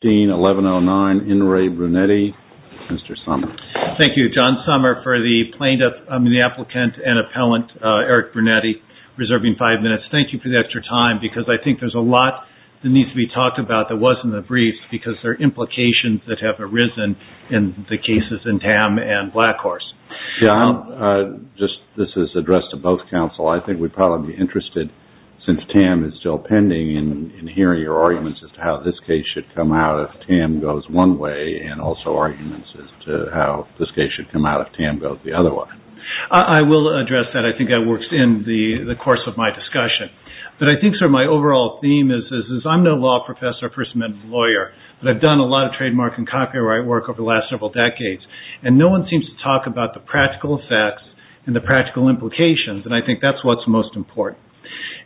Dean 1109, In Re Brunetti, Mr. Sommer. Thank you, John Sommer, for the plaintiff, I mean the applicant and appellant, Eric Brunetti, reserving five minutes. Thank you for the extra time because I think there's a lot that needs to be talked about that wasn't in the briefs because there are implications that have arisen in the cases in Tam and Blackhorse. Yeah, I'll just, this is addressed to both counsel. I think we'd probably be interested, since Tam is still pending, in this case should come out if Tam goes one way and also arguments as to how this case should come out if Tam goes the other way. I will address that. I think that works in the course of my discussion, but I think sort of my overall theme is I'm no law professor or First Amendment lawyer, but I've done a lot of trademark and copyright work over the last several decades, and no one seems to talk about the practical effects and the practical implications, and I think that's what's most important.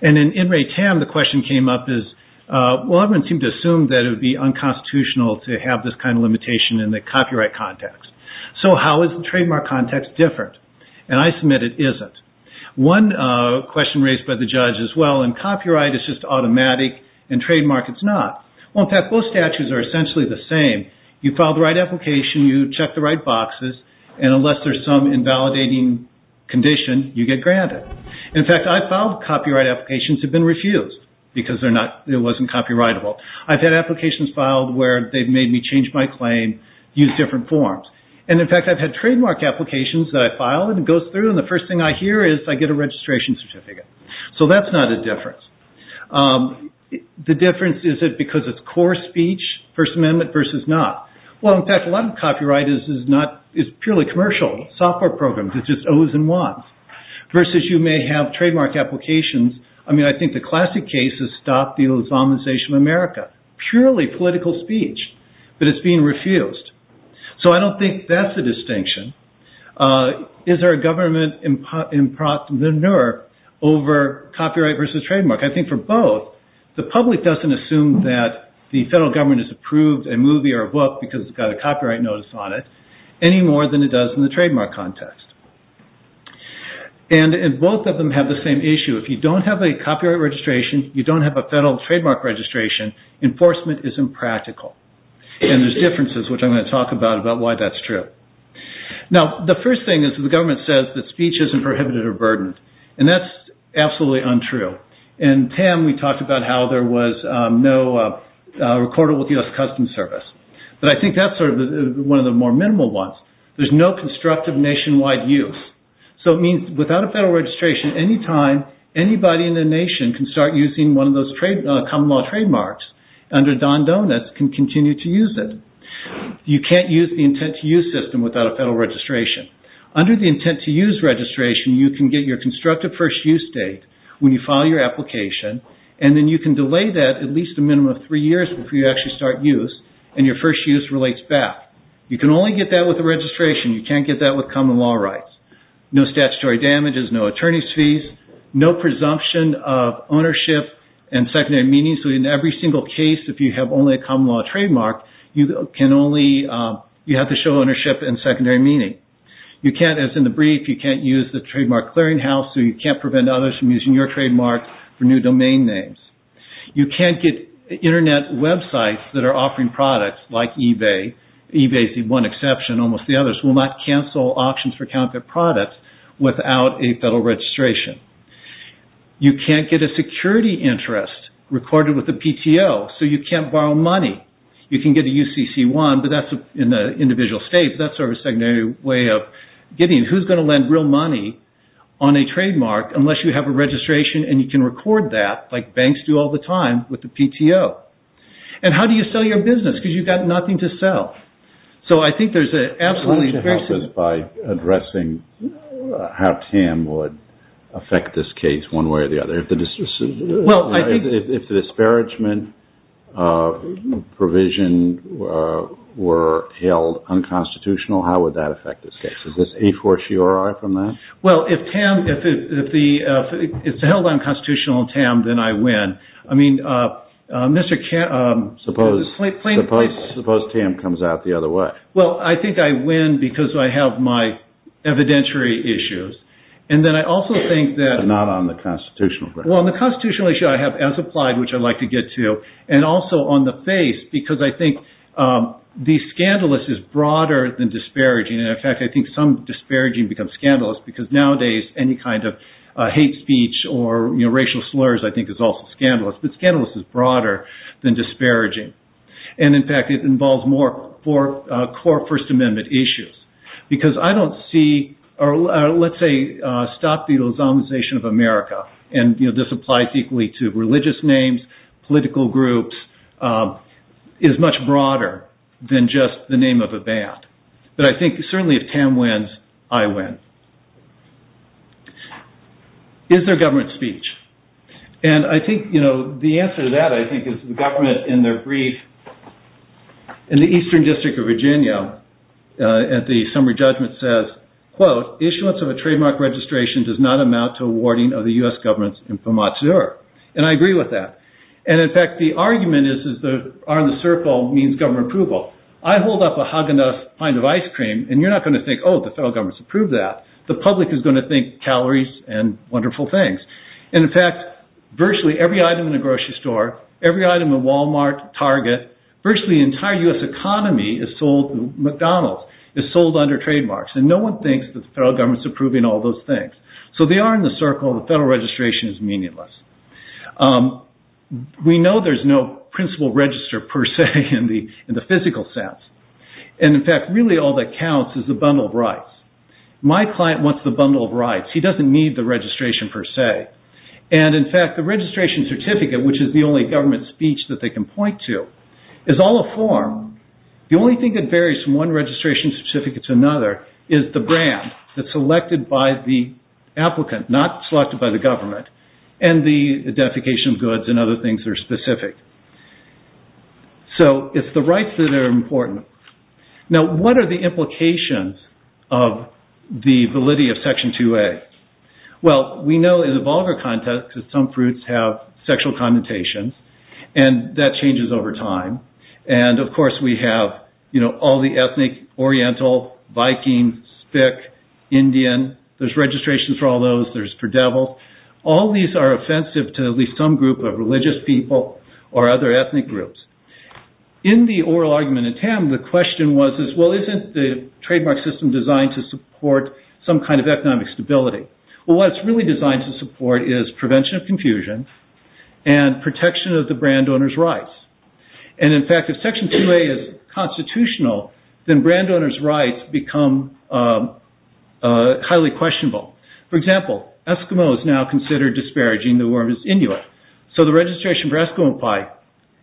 And in Tam, the question came up is, well, everyone seemed to assume that it would be unconstitutional to have this kind of limitation in the copyright context. So how is the trademark context different? And I submit it isn't. One question raised by the judge is, well, in copyright it's just automatic, in trademark it's not. Well, in fact, both statutes are essentially the same. You file the right application, you check the right boxes, and unless there's some invalidating condition, you get granted. In fact, I've filed copyright applications that have been refused because it wasn't copyrightable. I've had applications filed where they've made me change my claim, use different forms. And in fact, I've had trademark applications that I file and it goes through and the first thing I hear is I get a registration certificate. So that's not a difference. The difference is it because it's core speech, First Amendment versus not. Well, in fact, a lot of copyright is purely commercial software programs. It's just owes and wants. Versus you may have trademark applications. I mean, I think the classic case is stop the ozonization of America. Purely political speech, but it's being refused. So I don't think that's the distinction. Is there a government in the nerve over copyright versus trademark? I think for both, the public doesn't assume that the federal government has approved a movie or a book because it's got a copyright notice on it any more than it does in the trademark context. And both of them have the same issue. If you don't have a copyright registration, you don't have a federal trademark registration, enforcement isn't practical. And there's differences, which I'm going to talk about, about why that's true. Now, the first thing is the government says that speech isn't prohibited or burdened. And that's absolutely untrue. In TAM, we talked about how there was no recorded with the U.S. Customs Service. But I think that's one of the more minimal ones. There's no constructive nationwide use. So it means without a federal registration, anytime anybody in the nation can start using one of those common law trademarks under Don Donuts can continue to use it. You can't use the intent-to-use system without a federal registration. Under the intent-to-use registration, you can get your constructive first use date when you file your application. And then you can delay that at least a minimum of three years before you actually start use and your first use relates back. You can only get that with a registration. You can't get that with common law rights. No statutory damages, no attorney's fees, no presumption of ownership and secondary meaning. So in every single case, if you have only a common law trademark, you have to show clearinghouse so you can't prevent others from using your trademark for new domain names. You can't get internet websites that are offering products like eBay. eBay is one exception. Almost the others will not cancel auctions for counterfeit products without a federal registration. You can't get a security interest recorded with the PTO. So you can't borrow money. You can get a UCC1, but that's in the individual states. That's sort of a secondary way of getting who's going to lend real money on a trademark unless you have a registration and you can record that like banks do all the time with the PTO. And how do you sell your business? Because you've got nothing to sell. So I think there's an absolutely... Can you help us by addressing how TAM would affect this case one way or the other? If the disparagement provision were held unconstitutional, how would that affect this case? Is this a fortiori from that? Well, if it's held unconstitutional on TAM, then I win. I mean, Mr. Suppose TAM comes out the other way. Well, I think I win because I have my evidentiary issues. And then I also think that... Not on the constitutional ground. Well, on the constitutional issue, I have as applied, which I'd like to get to, and also on the face because I think the scandalous is broader than disparaging. And in fact, I think some disparaging becomes scandalous because nowadays, any kind of hate speech or racial slurs, I think is also scandalous. But scandalous is broader than disparaging. And in fact, it involves more core First Amendment issues. Because I don't see, or let's say, stop the exoneration of America. And this applies equally to religious names, political groups, is much broader than just the name of a band. But I think certainly if TAM wins, I win. Is there government speech? And I think the answer to that, I think, is the government in their brief in the Eastern District of Virginia at the summary judgment says, quote, issuance of a trademark registration does not amount to awarding of the U.S. government's infomatur. And I agree with that. And in fact, the argument is the R in the circle means government approval. I hold up a Häagen-Dazs kind of ice cream and you're not going to think, oh, the federal government's approved that. The public is going to think calories and wonderful things. And in fact, virtually every item in a grocery store, every item in Walmart, Target, virtually entire U.S. economy is sold, McDonald's is sold under trademarks. And no one thinks that the federal government's approving all those things. So they are in the circle of the federal registration is meaningless. We know there's no principal register per se in the physical sense. And in fact, really all that counts is the bundle of rights. My client wants the bundle of rights. He doesn't need the registration per se. And in fact, the registration certificate, which is the only government speech that they can point to, is all a form. The only thing that varies from one registration certificate to another is the brand that's selected by the applicant, not selected by the government, and the identification of goods and other things that are specific. So it's the rights that are important. Now, what are the implications of the validity of Section 2A? Well, we know in a vulgar context that some fruits have sexual connotations and that changes over time. And of course, we have all the ethnic, Oriental, Viking, Spic, Indian. There's registration for all those. There's for devils. All these are offensive to at least some group of religious people or other ethnic groups. In the oral argument in TAM, the question was, well, isn't the trademark system designed to support some kind of economic stability? Well, what it's really designed to support is prevention of confusion and protection of the brand owner's rights. And in fact, if Section 2A is constitutional, then brand owner's rights become highly questionable. For example, Eskimos now consider disparaging the worm as Inuit. So the registration for Eskimo pie,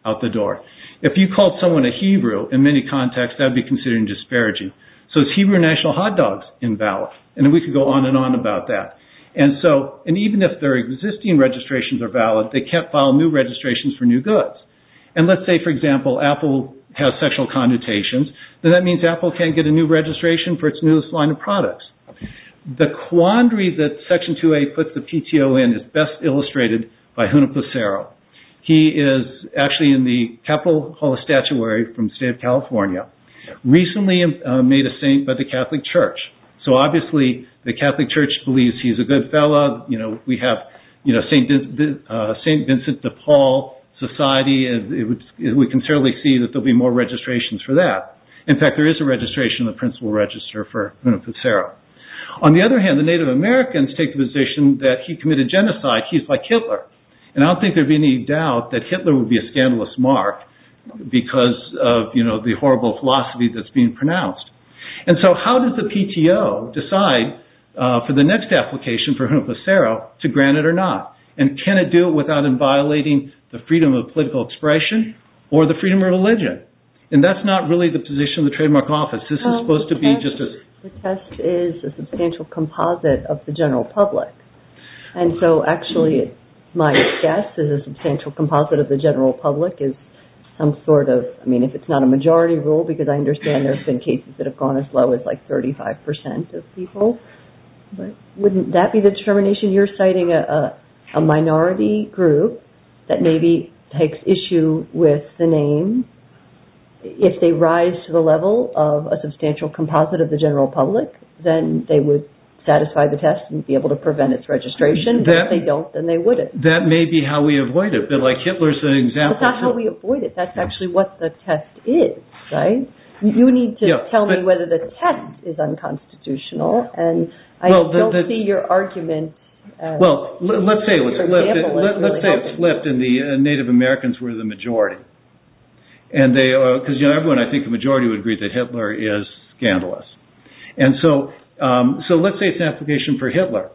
out the door. If you called someone a Hebrew, in many contexts, that would be considered disparaging. So it's Hebrew national hot dogs in valor. And we could go on and on about that. And even if their existing registrations are valid, they can't file new registrations for new goods. And let's say, for example, Apple has sexual connotations, then that means Apple can't get a new registration for its newest line of products. The quandary that Section 2A puts the PTO in is best illustrated by Huna Placero. He is actually in the Capitol Hall of Statuary from State of California. Recently made a saint by the Catholic Church. So obviously, the Catholic Church believes he's a good fellow. We have St. Vincent de Paul Society, and we can certainly see that there'll be more registrations for that. In fact, there is a registration in the principal register for Huna Placero. On the other hand, the Native Americans take the position that he committed genocide. He's like Hitler. And I don't think there'd be any doubt that Hitler would be a scandalous mark because of the horrible philosophy that's being pronounced. And so how does the PTO decide for the next application for Huna Placero to grant it or not? And can it do it without inviolating the freedom of political expression or the freedom of religion? And that's not really the position of the trademark office. This is supposed to be just as... The test is a substantial composite of the general public. And so actually, my guess is a substantial composite of the general public is some sort of, I mean, if it's not a majority rule, because I understand there's been cases that have gone as low as like 35% of people, but wouldn't that be the discrimination? You're citing a minority group that maybe takes issue with the name. If they rise to the level of a substantial composite of the general public, then they would satisfy the test and be able to prevent its registration. If they don't, then they wouldn't. That may be how we avoid it, but like Hitler's an example. That's not how we avoid it. That's actually what the test is, right? You need to tell me whether the test is unconstitutional, and I don't see your argument. Well, let's say it was left in the Native Americans were the majority. And they are, because, you know, everyone, I think the majority would agree that Hitler is scandalous. And so, so let's say it's an application for Hitler.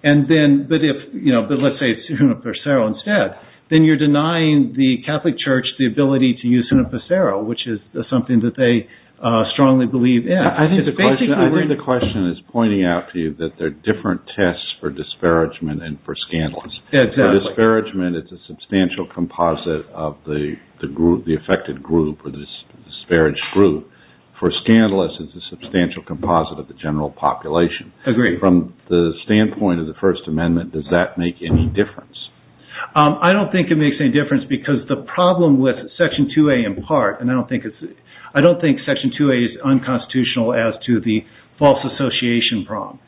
And then, but if, you know, but let's say it's Huna Placero instead, then you're denying the Catholic Church, the ability to use Huna Placero, which is something that they strongly believe in. I think the question is pointing out to you that there are different tests for disparagement and for scandalous. For disparagement, it's a substantial composite of the group, the affected group or this disparaged group. For scandalous, it's a substantial composite of the general population. From the standpoint of the First Amendment, does that make any difference? I don't think it makes any difference because the problem with Section 2A in part, and I don't think it's, I don't think Section 2A is unconstitutional as to the false association problem.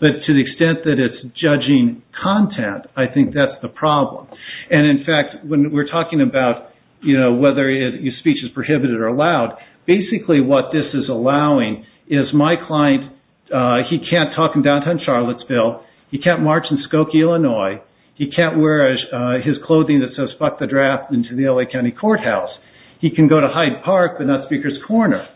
But to the extent that it's judging content, I think that's the problem. And in fact, when we're talking about, you know, whether your speech is prohibited or allowed, basically what this is allowing is my client, he can't talk in downtown Charlottesville, he can't march in his clothing that says fuck the draft into the L.A. County Courthouse. He can go to Hyde Park, but not Speaker's Corner.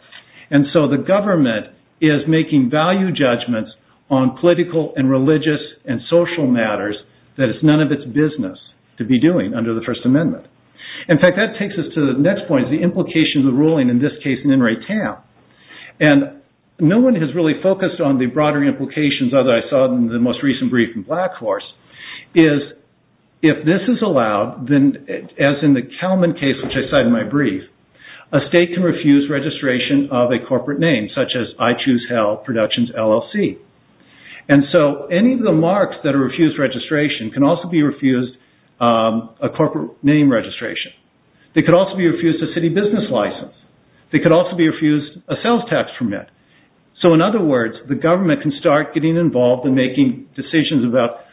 And so the government is making value judgments on political and religious and social matters that it's none of its business to be doing under the First Amendment. In fact, that takes us to the next point, the implications of ruling in this case in Enright Town. And no one has really focused on the broader implications, other than I saw in the most if this is allowed, then as in the Kalman case, which I cited in my brief, a state can refuse registration of a corporate name, such as I Choose Hell Productions LLC. And so any of the marks that are refused registration can also be refused a corporate name registration. They could also be refused a city business license. They could also be refused a sales tax permit. So in other words, the government can start getting involved in making decisions about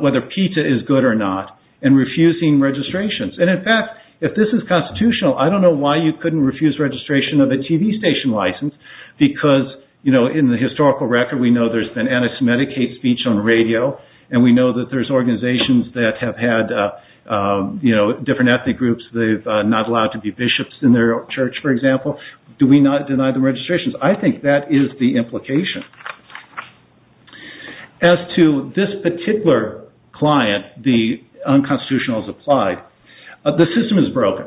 whether pizza is good or not and refusing registrations. And in fact, if this is constitutional, I don't know why you couldn't refuse registration of a TV station license, because in the historical record, we know there's been anti-Semitic hate speech on radio, and we know that there's organizations that have had different ethnic groups, they've not allowed to be bishops in their church, for example. Do we not deny the registrations? I think that is the implication. As to this particular client, the unconstitutional is applied, the system is broken.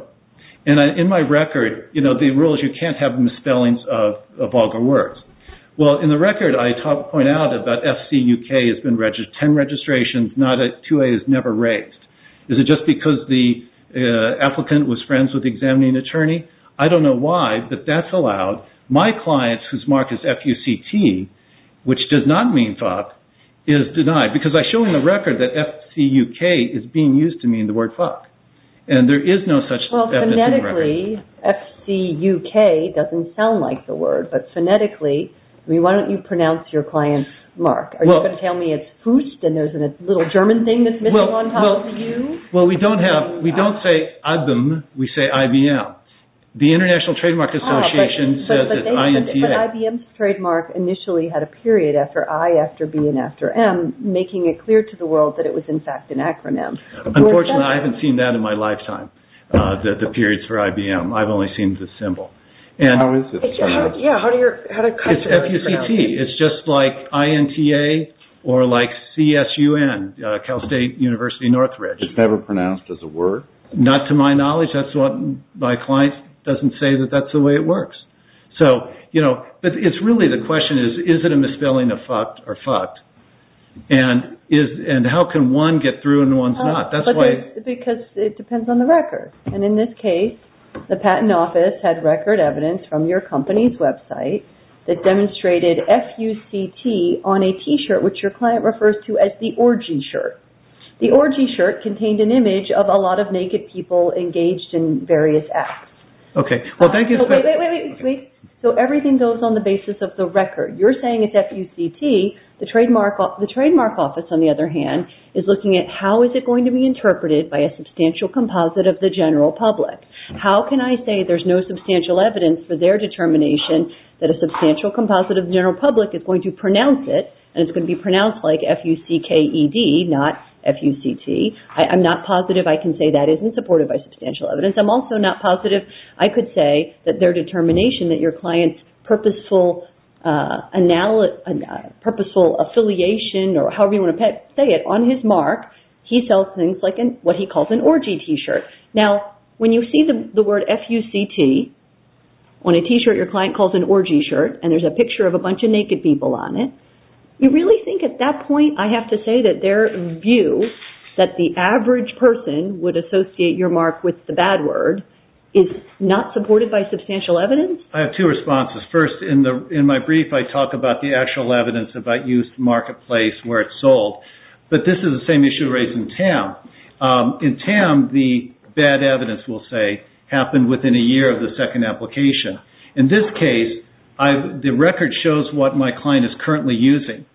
And in my record, the rules, you can't have misspellings of vulgar words. Well, in the record, I point out about SCUK has been registered, 10 registrations, not a 2A is never raised. Is it just because the applicant was friends with the examining attorney? I don't know why, but that's allowed. My clients whose mark is F-U-C-T, which does not mean fuck, is denied, because I show in the record that F-C-U-K is being used to mean the word fuck. And there is no such F-U-C-T record. Well, phonetically, F-C-U-K doesn't sound like the word, but phonetically, I mean, why don't you pronounce your client's mark? Are you going to tell me it's Fust and there's a little German thing that's missing on top of the U? Well, we don't have, we don't say IBM, we say IBM. The International Trademark Association says it's I-N-T-A. But IBM's trademark initially had a period after I, after B, and after M, making it clear to the world that it was, in fact, an acronym. Unfortunately, I haven't seen that in my lifetime, that the periods for IBM, I've only seen the symbol. And how is it? It's F-U-C-T, it's just like I-N-T-A, or like C-S-U-N, Cal State University Northridge. It's never pronounced as a word? Not to my knowledge. That's what my client doesn't say, that that's the way it works. So, you know, but it's really the question is, is it a misspelling of fucked or fucked? And is, and how can one get through and one's not? That's why... Because it depends on the record. And in this case, the patent office had record evidence from your company's website that demonstrated F-U-C-T on a T-shirt, which your client refers to as the orgy shirt. The orgy shirt contained an image of a lot of naked people engaged in various acts. Okay. Well, thank you. Wait, wait, wait. So everything goes on the basis of the record. You're saying it's F-U-C-T. The trademark office, on the other hand, is looking at how is it going to be interpreted by a substantial composite of the general public? How can I say there's no substantial evidence for their determination that a substantial composite of the general public is going to pronounce it? And it's going to be pronounced like F-U-C-K-E-D, not F-U-C-T. I'm not positive I can say that isn't supported by substantial evidence. I'm also not positive I could say that their determination that your client's purposeful affiliation or however you want to say it, on his mark, he sells things like what he calls an orgy T-shirt. Now, when you see the word F-U-C-T on a T-shirt your client calls an orgy shirt and there's a picture of a bunch of naked people on it, you really think at that point I have to say that their view that the average person would associate your mark with the bad word is not supported by substantial evidence? I have two responses. First, in my brief, I talk about the actual evidence about used marketplace where it's sold. But this is the same issue raised in TAM. In TAM, the bad evidence, we'll say, happened within a year of the second application. In this case, the record shows what my client is currently using.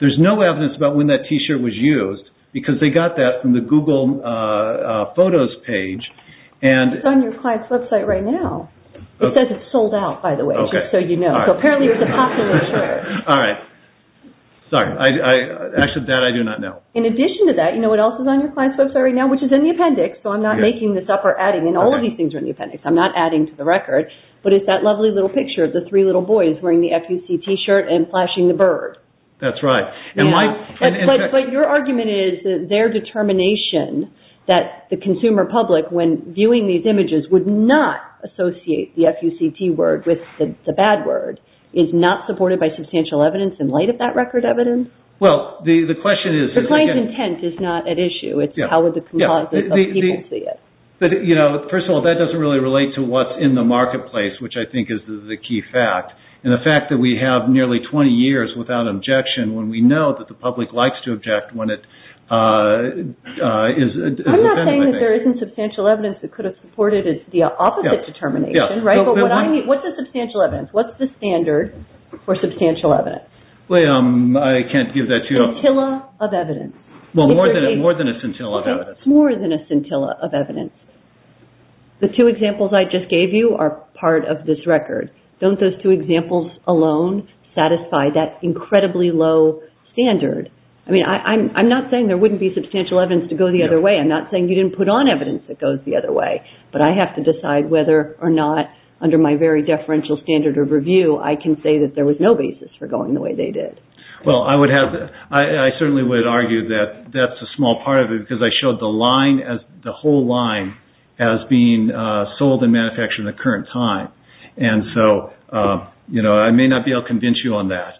There's no evidence about when that T-shirt was used because they got that from the Google Photos page. It's on your client's website right now. It says it's sold out, by the way, just so you know. Apparently, it's a popular shirt. Sorry. Actually, that I do not know. In addition to that, you know what else is on your client's website right now, which is in the appendix, so I'm not making this up or adding in. All of these things are in the appendix. I'm not adding to the record. But it's that lovely little picture of the three little boys wearing the F-U-C-T shirt and flashing the bird. That's right. But your argument is that their determination that the consumer public, when viewing these images, would not associate the F-U-C-T word with the bad word, is not supported by substantial evidence in light of that record evidence? Well, the question is... The client's intent is not at issue. It's how the composite of people see it. But, you know, first of all, that doesn't really relate to what's in the marketplace, which I think is the key fact. And the fact that we have nearly 20 years without objection when we know that the public likes to object when it is... I'm not saying that there isn't substantial evidence that could have supported the opposite determination, right? But what's the substantial evidence? What's the standard for substantial evidence? I can't give that to you. A scintilla of evidence. Well, more than a scintilla of evidence. More than a scintilla of evidence. The two examples I just gave you are part of this record. Don't those two examples alone satisfy that incredibly low standard? I mean, I'm not saying there wouldn't be substantial evidence to go the other way. I'm not saying you didn't put on evidence that goes the other way. But I have to decide whether or not, under my very deferential standard of review, I can say that there was no basis for going the way they did. Well, I would have... I certainly would argue that that's a small part of it because I showed the line, the whole line, as being sold and manufactured in the current time. And so, you know, I may not be able to convince you on that.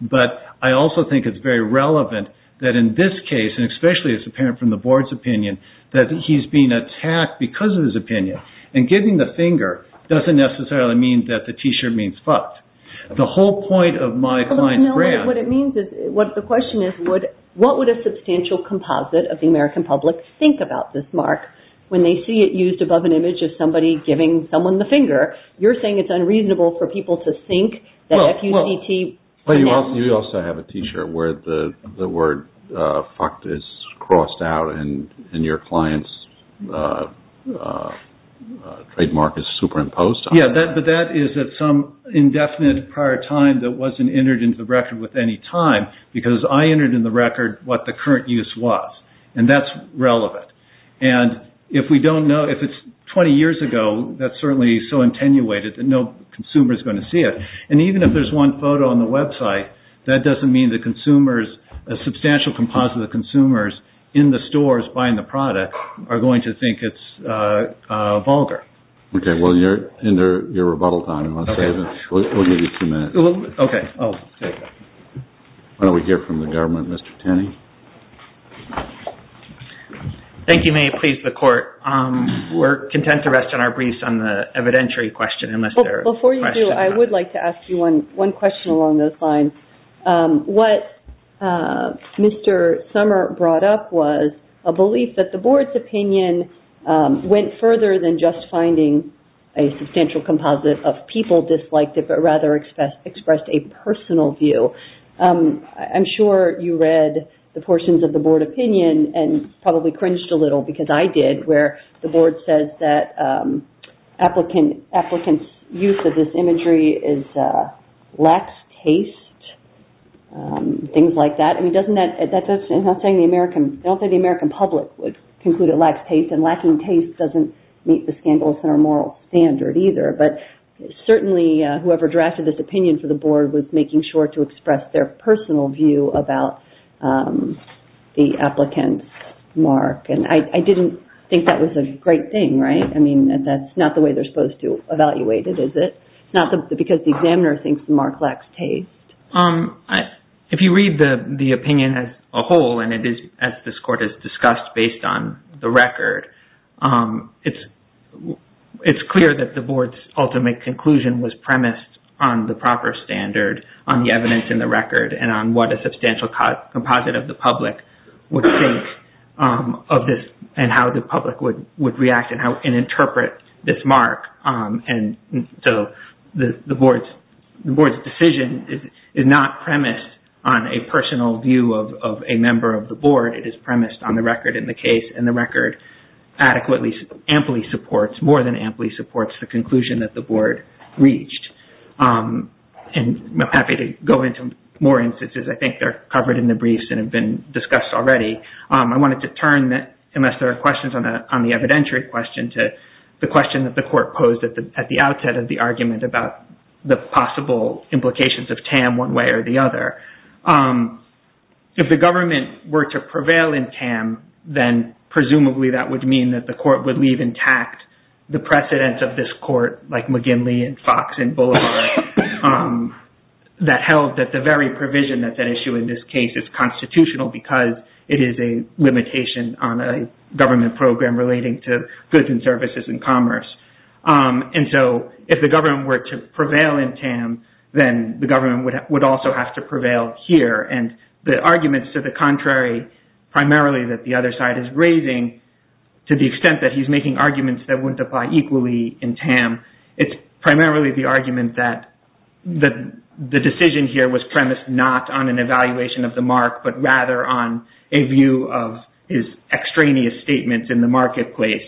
But I also think it's very relevant that in this case, and especially it's apparent from the board's opinion, that he's being attacked because of his opinion. And giving the finger doesn't necessarily mean that the t-shirt means fucked. The whole point of my client's brand... What it means is, what the question is, what would a substantial composite of the American public think about this mark when they see it used above an image of somebody giving someone the finger? You're saying it's unreasonable for people to think that F-U-C-T... Well, you also have a t-shirt where the word F-U-C-T is crossed out and your client's trademark is superimposed on it. Yeah, but that is at some indefinite prior time that wasn't entered into the record with any time because I entered in the record what the current use was. And that's relevant. And if we don't know... If it's 20 years ago, that's certainly so attenuated that no consumer is going to see it. And even if there's one photo on the website, that doesn't mean the consumer's substantial composite of the consumers in the stores buying the product are going to think it's vulgar. Okay. Well, you're in your rebuttal time. We'll give you two minutes. Okay. I'll take that. Why don't we hear from the government, Mr. Tanney? Thank you, May. Please, the court. We're content to rest on our briefs on the evidentiary question. Before you do, I would like to ask you one question along those lines. What Mr. Sommer brought up was a belief that the board's opinion went further than just finding a substantial composite of people disliked it, but rather expressed a personal view. I'm sure you read the portions of the board opinion and probably cringed a little because I did, where the board says that applicants' use of this imagery is lax taste, things like that. I mean, doesn't that... I'm not saying the American... I don't think the American public would conclude it lacks taste, and lacking taste doesn't meet the scandalous moral standard either. But certainly, whoever drafted this opinion for the board was making sure to express their applicant's mark, and I didn't think that was a great thing, right? I mean, that's not the way they're supposed to evaluate it, is it? Not because the examiner thinks the mark lacks taste. If you read the opinion as a whole, and it is, as this court has discussed, based on the record, it's clear that the board's ultimate conclusion was premised on the proper standard, on the evidence in the record, and on what a substantial composite of the public would think of this, and how the public would react and interpret this mark. And so the board's decision is not premised on a personal view of a member of the board. It is premised on the record in the case, and the record adequately, amply supports, more than amply supports the conclusion that the board reached. And I'm happy to go into more instances. I think they're covered in the briefs, and have been discussed already. I wanted to turn, unless there are questions on the evidentiary question, to the question that the court posed at the outset of the argument about the possible implications of TAM one way or the other. If the government were to prevail in TAM, then presumably that would mean that the court would leave intact the precedence of this court, like McGinley and Fox and Boulevard, that held that the very provision that's at issue in this case is constitutional, because it is a limitation on a government program relating to goods and services and commerce. And so if the government were to prevail in TAM, then the government would also have to prevail here. And the arguments to the contrary, primarily that the other side is raising, to the extent that he's making arguments that wouldn't apply equally in TAM, it's primarily the argument that the decision here was premised not on an evaluation of the mark, but rather on a view of his extraneous statements in the marketplace.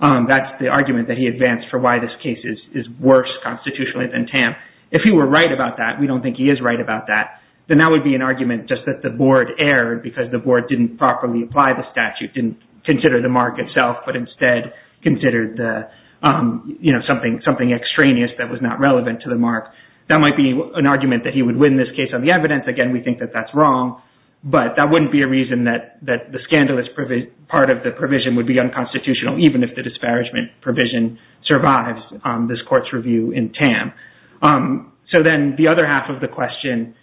That's the argument that he advanced for why this case is worse constitutionally than TAM. If he were right about that, we don't think he is right about that, then that would be an argument just that the board erred because the board didn't properly apply the statute, didn't consider the mark itself, but instead considered something extraneous that was not relevant to the mark. That might be an argument that he would win this case on the evidence. Again, we think that that's wrong, but that wouldn't be a reason that the scandalous part of the provision would be unconstitutional, even if the question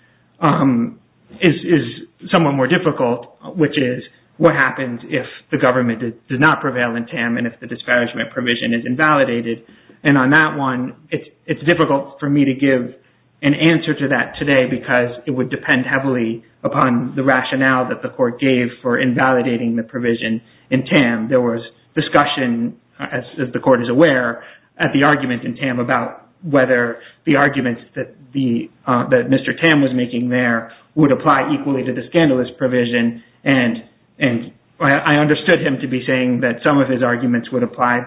is somewhat more difficult, which is, what happens if the government does not prevail in TAM and if the disparagement provision is invalidated? And on that one, it's difficult for me to give an answer to that today because it would depend heavily upon the rationale that the court gave for invalidating the provision in TAM. There was discussion, as the court is aware, at the argument in TAM about whether the arguments that Mr. Tam was making there would apply equally to the scandalous provision, and I understood him to be saying that some of his arguments would apply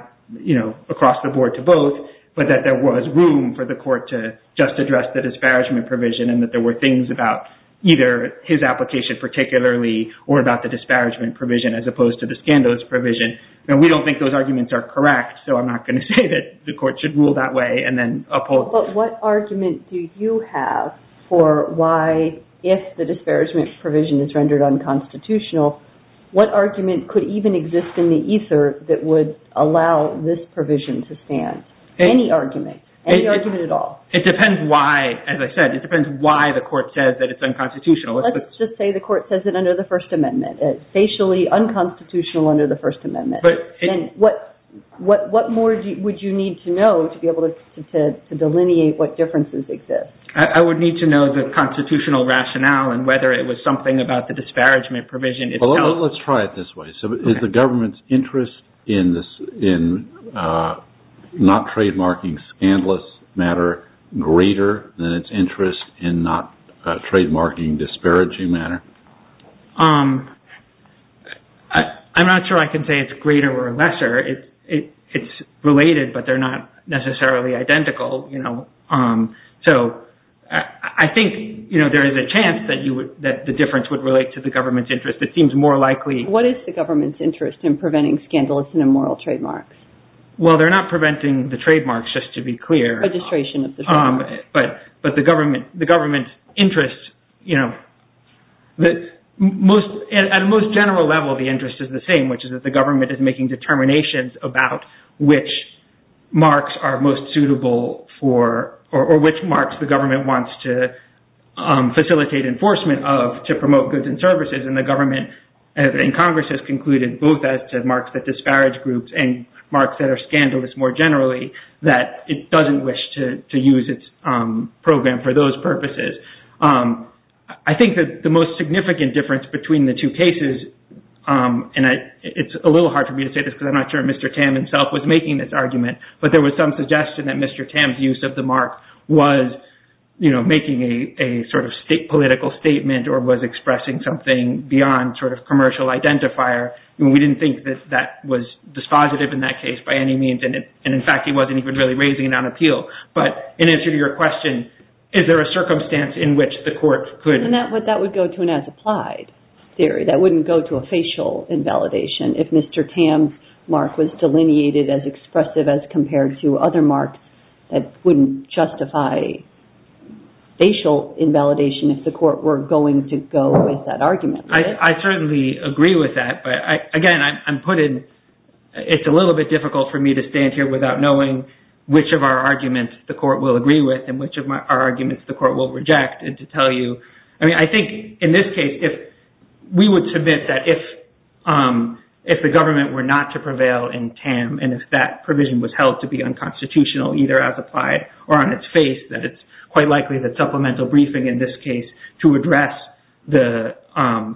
across the board to both, but that there was room for the court to just address the disparagement provision and that there were things about either his application particularly or about the disparagement provision as opposed to the scandalous provision. We don't think those arguments are correct, so I'm not going to say that the court should rule that way and then oppose it. But what argument do you have for why, if the disparagement provision is rendered unconstitutional, what argument could even exist in the ether that would allow this provision to stand? Any argument. Any argument at all. It depends why, as I said, it depends why the court says that it's unconstitutional. Let's just say the court says it under the First Amendment. It's facially unconstitutional under the First Amendment. What more would you need to know to be able to delineate what differences exist? I would need to know the constitutional rationale and whether it was something about the disparagement provision itself. Let's try it this way. Is the government's interest in not trademarking scandalous matter greater than its interest in not trademarking disparaging matter? I'm not sure I can say it's greater or lesser. It's related, but they're not necessarily identical. I think there is a chance that the difference would relate to the government's interest. It seems more likely. What is the government's interest in preventing scandalous and immoral trademarks? Well, they're not preventing the trademarks, just to be clear. Registration of the trademark. But the government's interest, at a most general level, the interest is the same, which is that the government is making determinations about which marks are most suitable or which marks the government wants to facilitate enforcement of to promote goods and services. The government and Congress has concluded both as to marks that disparage groups and marks that are scandalous more generally, that it doesn't wish to use its program for those purposes. I think that the most significant difference between the two cases, and it's a little hard for me to say this because I'm not sure if Mr. Tam himself was making this argument, but there was some suggestion that Mr. Tam's use of the mark was making a political statement or was expressing something beyond commercial identifier. We didn't think that that was dispositive in that case by any means, and in fact, he wasn't even really raising it on appeal. But in answer to your question, is there a circumstance in which the court could? That would go to an as-applied theory. That wouldn't go to a facial invalidation if Mr. Tam's mark was delineated as expressive as compared to other marks that wouldn't justify facial invalidation if the court were going to go with that argument. I certainly agree with that, but again, it's a little bit difficult for me to stand here without knowing which of our arguments the court will agree with and which of our arguments the court will reject and to tell you. I think in this case, we would submit that if the government were not to prevail in Tam and if that provision was held to be unconstitutional either as applied or on face, that it's quite likely that supplemental briefing in this case to address the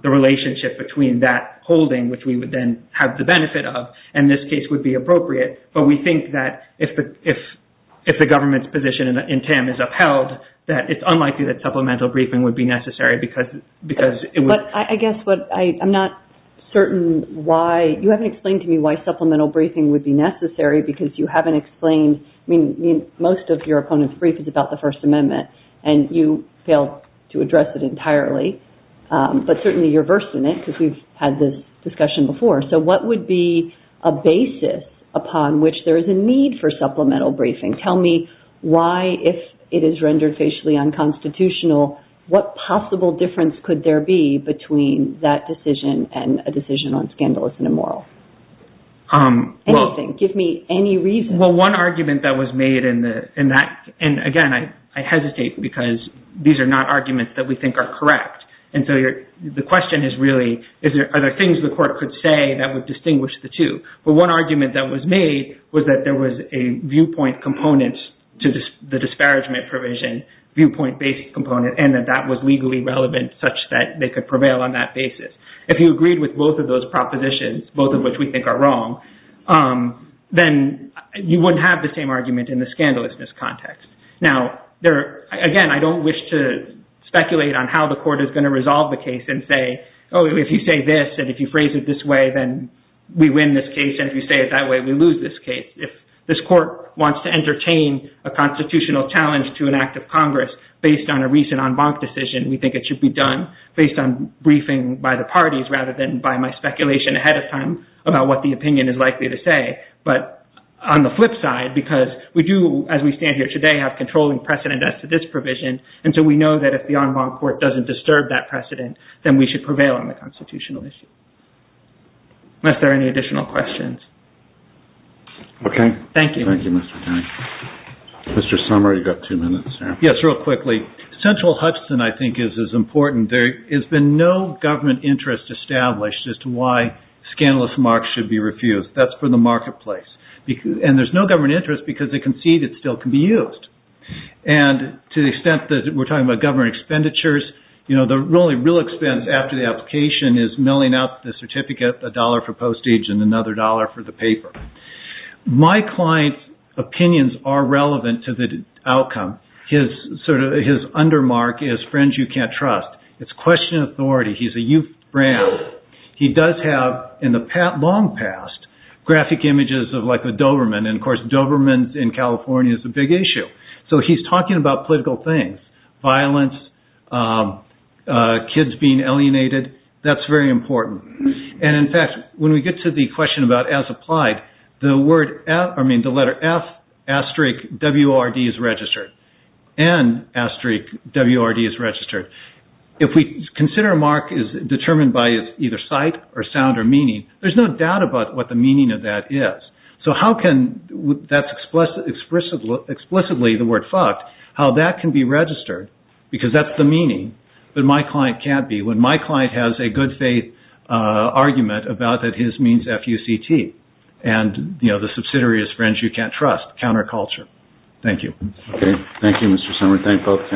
relationship between that holding, which we would then have the benefit of, in this case would be appropriate. But we think that if the government's position in Tam is upheld, that it's unlikely that supplemental briefing would be necessary because it would... But I guess what I'm not certain why... You haven't explained to me why supplemental briefing would be necessary because you haven't explained... I mean, most of your opponent's brief is about the First Amendment and you failed to address it entirely, but certainly you're versed in it because we've had this discussion before. So what would be a basis upon which there is a need for supplemental briefing? Tell me why, if it is rendered facially unconstitutional, what possible difference could there be between that decision and a decision on scandalous and immoral? Anything. Give me any reason. Well, one argument that was made in that... And again, I hesitate because these are not arguments that we think are correct. And so the question is really, are there things the court could say that would distinguish the two? But one argument that was made was that there was a viewpoint component to the disparagement provision, viewpoint-based component, and that that was legally relevant such that they could prevail on that basis. If you agreed with both of those you wouldn't have the same argument in the scandalousness context. Now, again, I don't wish to speculate on how the court is going to resolve the case and say, oh, if you say this and if you phrase it this way, then we win this case. And if you say it that way, we lose this case. If this court wants to entertain a constitutional challenge to an act of Congress based on a recent en banc decision, we think it should be done based on briefing by the parties rather than by my speculation ahead of time about what the opinion is likely to say. But on the flip side, because we do, as we stand here today, have controlling precedent as to this provision, and so we know that if the en banc court doesn't disturb that precedent, then we should prevail on the constitutional issue. Unless there are any additional questions. Okay. Thank you. Thank you, Mr. Tan. Mr. Sommer, you've got two minutes there. Yes, real quickly. Central Hudson, I think, is as important. There has been no government interest established as to why scandalous marks should be refused. That's for the marketplace. And there's no government interest because they concede it still can be used. And to the extent that we're talking about government expenditures, you know, the only real expense after the application is milling out the certificate, a dollar for postage and another dollar for the paper. My client's opinions are relevant to the outcome. His undermark is Friends You Can't Trust. It's authority. He's a youth brand. He does have, in the long past, graphic images of, like, a Doberman. And, of course, Dobermans in California is a big issue. So he's talking about political things, violence, kids being alienated. That's very important. And, in fact, when we get to the question about as applied, the letter F asterisk WRD is registered. And asterisk WRD is registered. If we consider a mark is determined by its either sight or sound or meaning, there's no doubt about what the meaning of that is. So how can that's explicitly the word fucked, how that can be registered, because that's the meaning that my client can't be when my client has a good faith argument about that his means F-U-C-T and, you know, subsidiary is Friends You Can't Trust, counterculture. Thank you. Thank you, Mr. Summers. Thank both.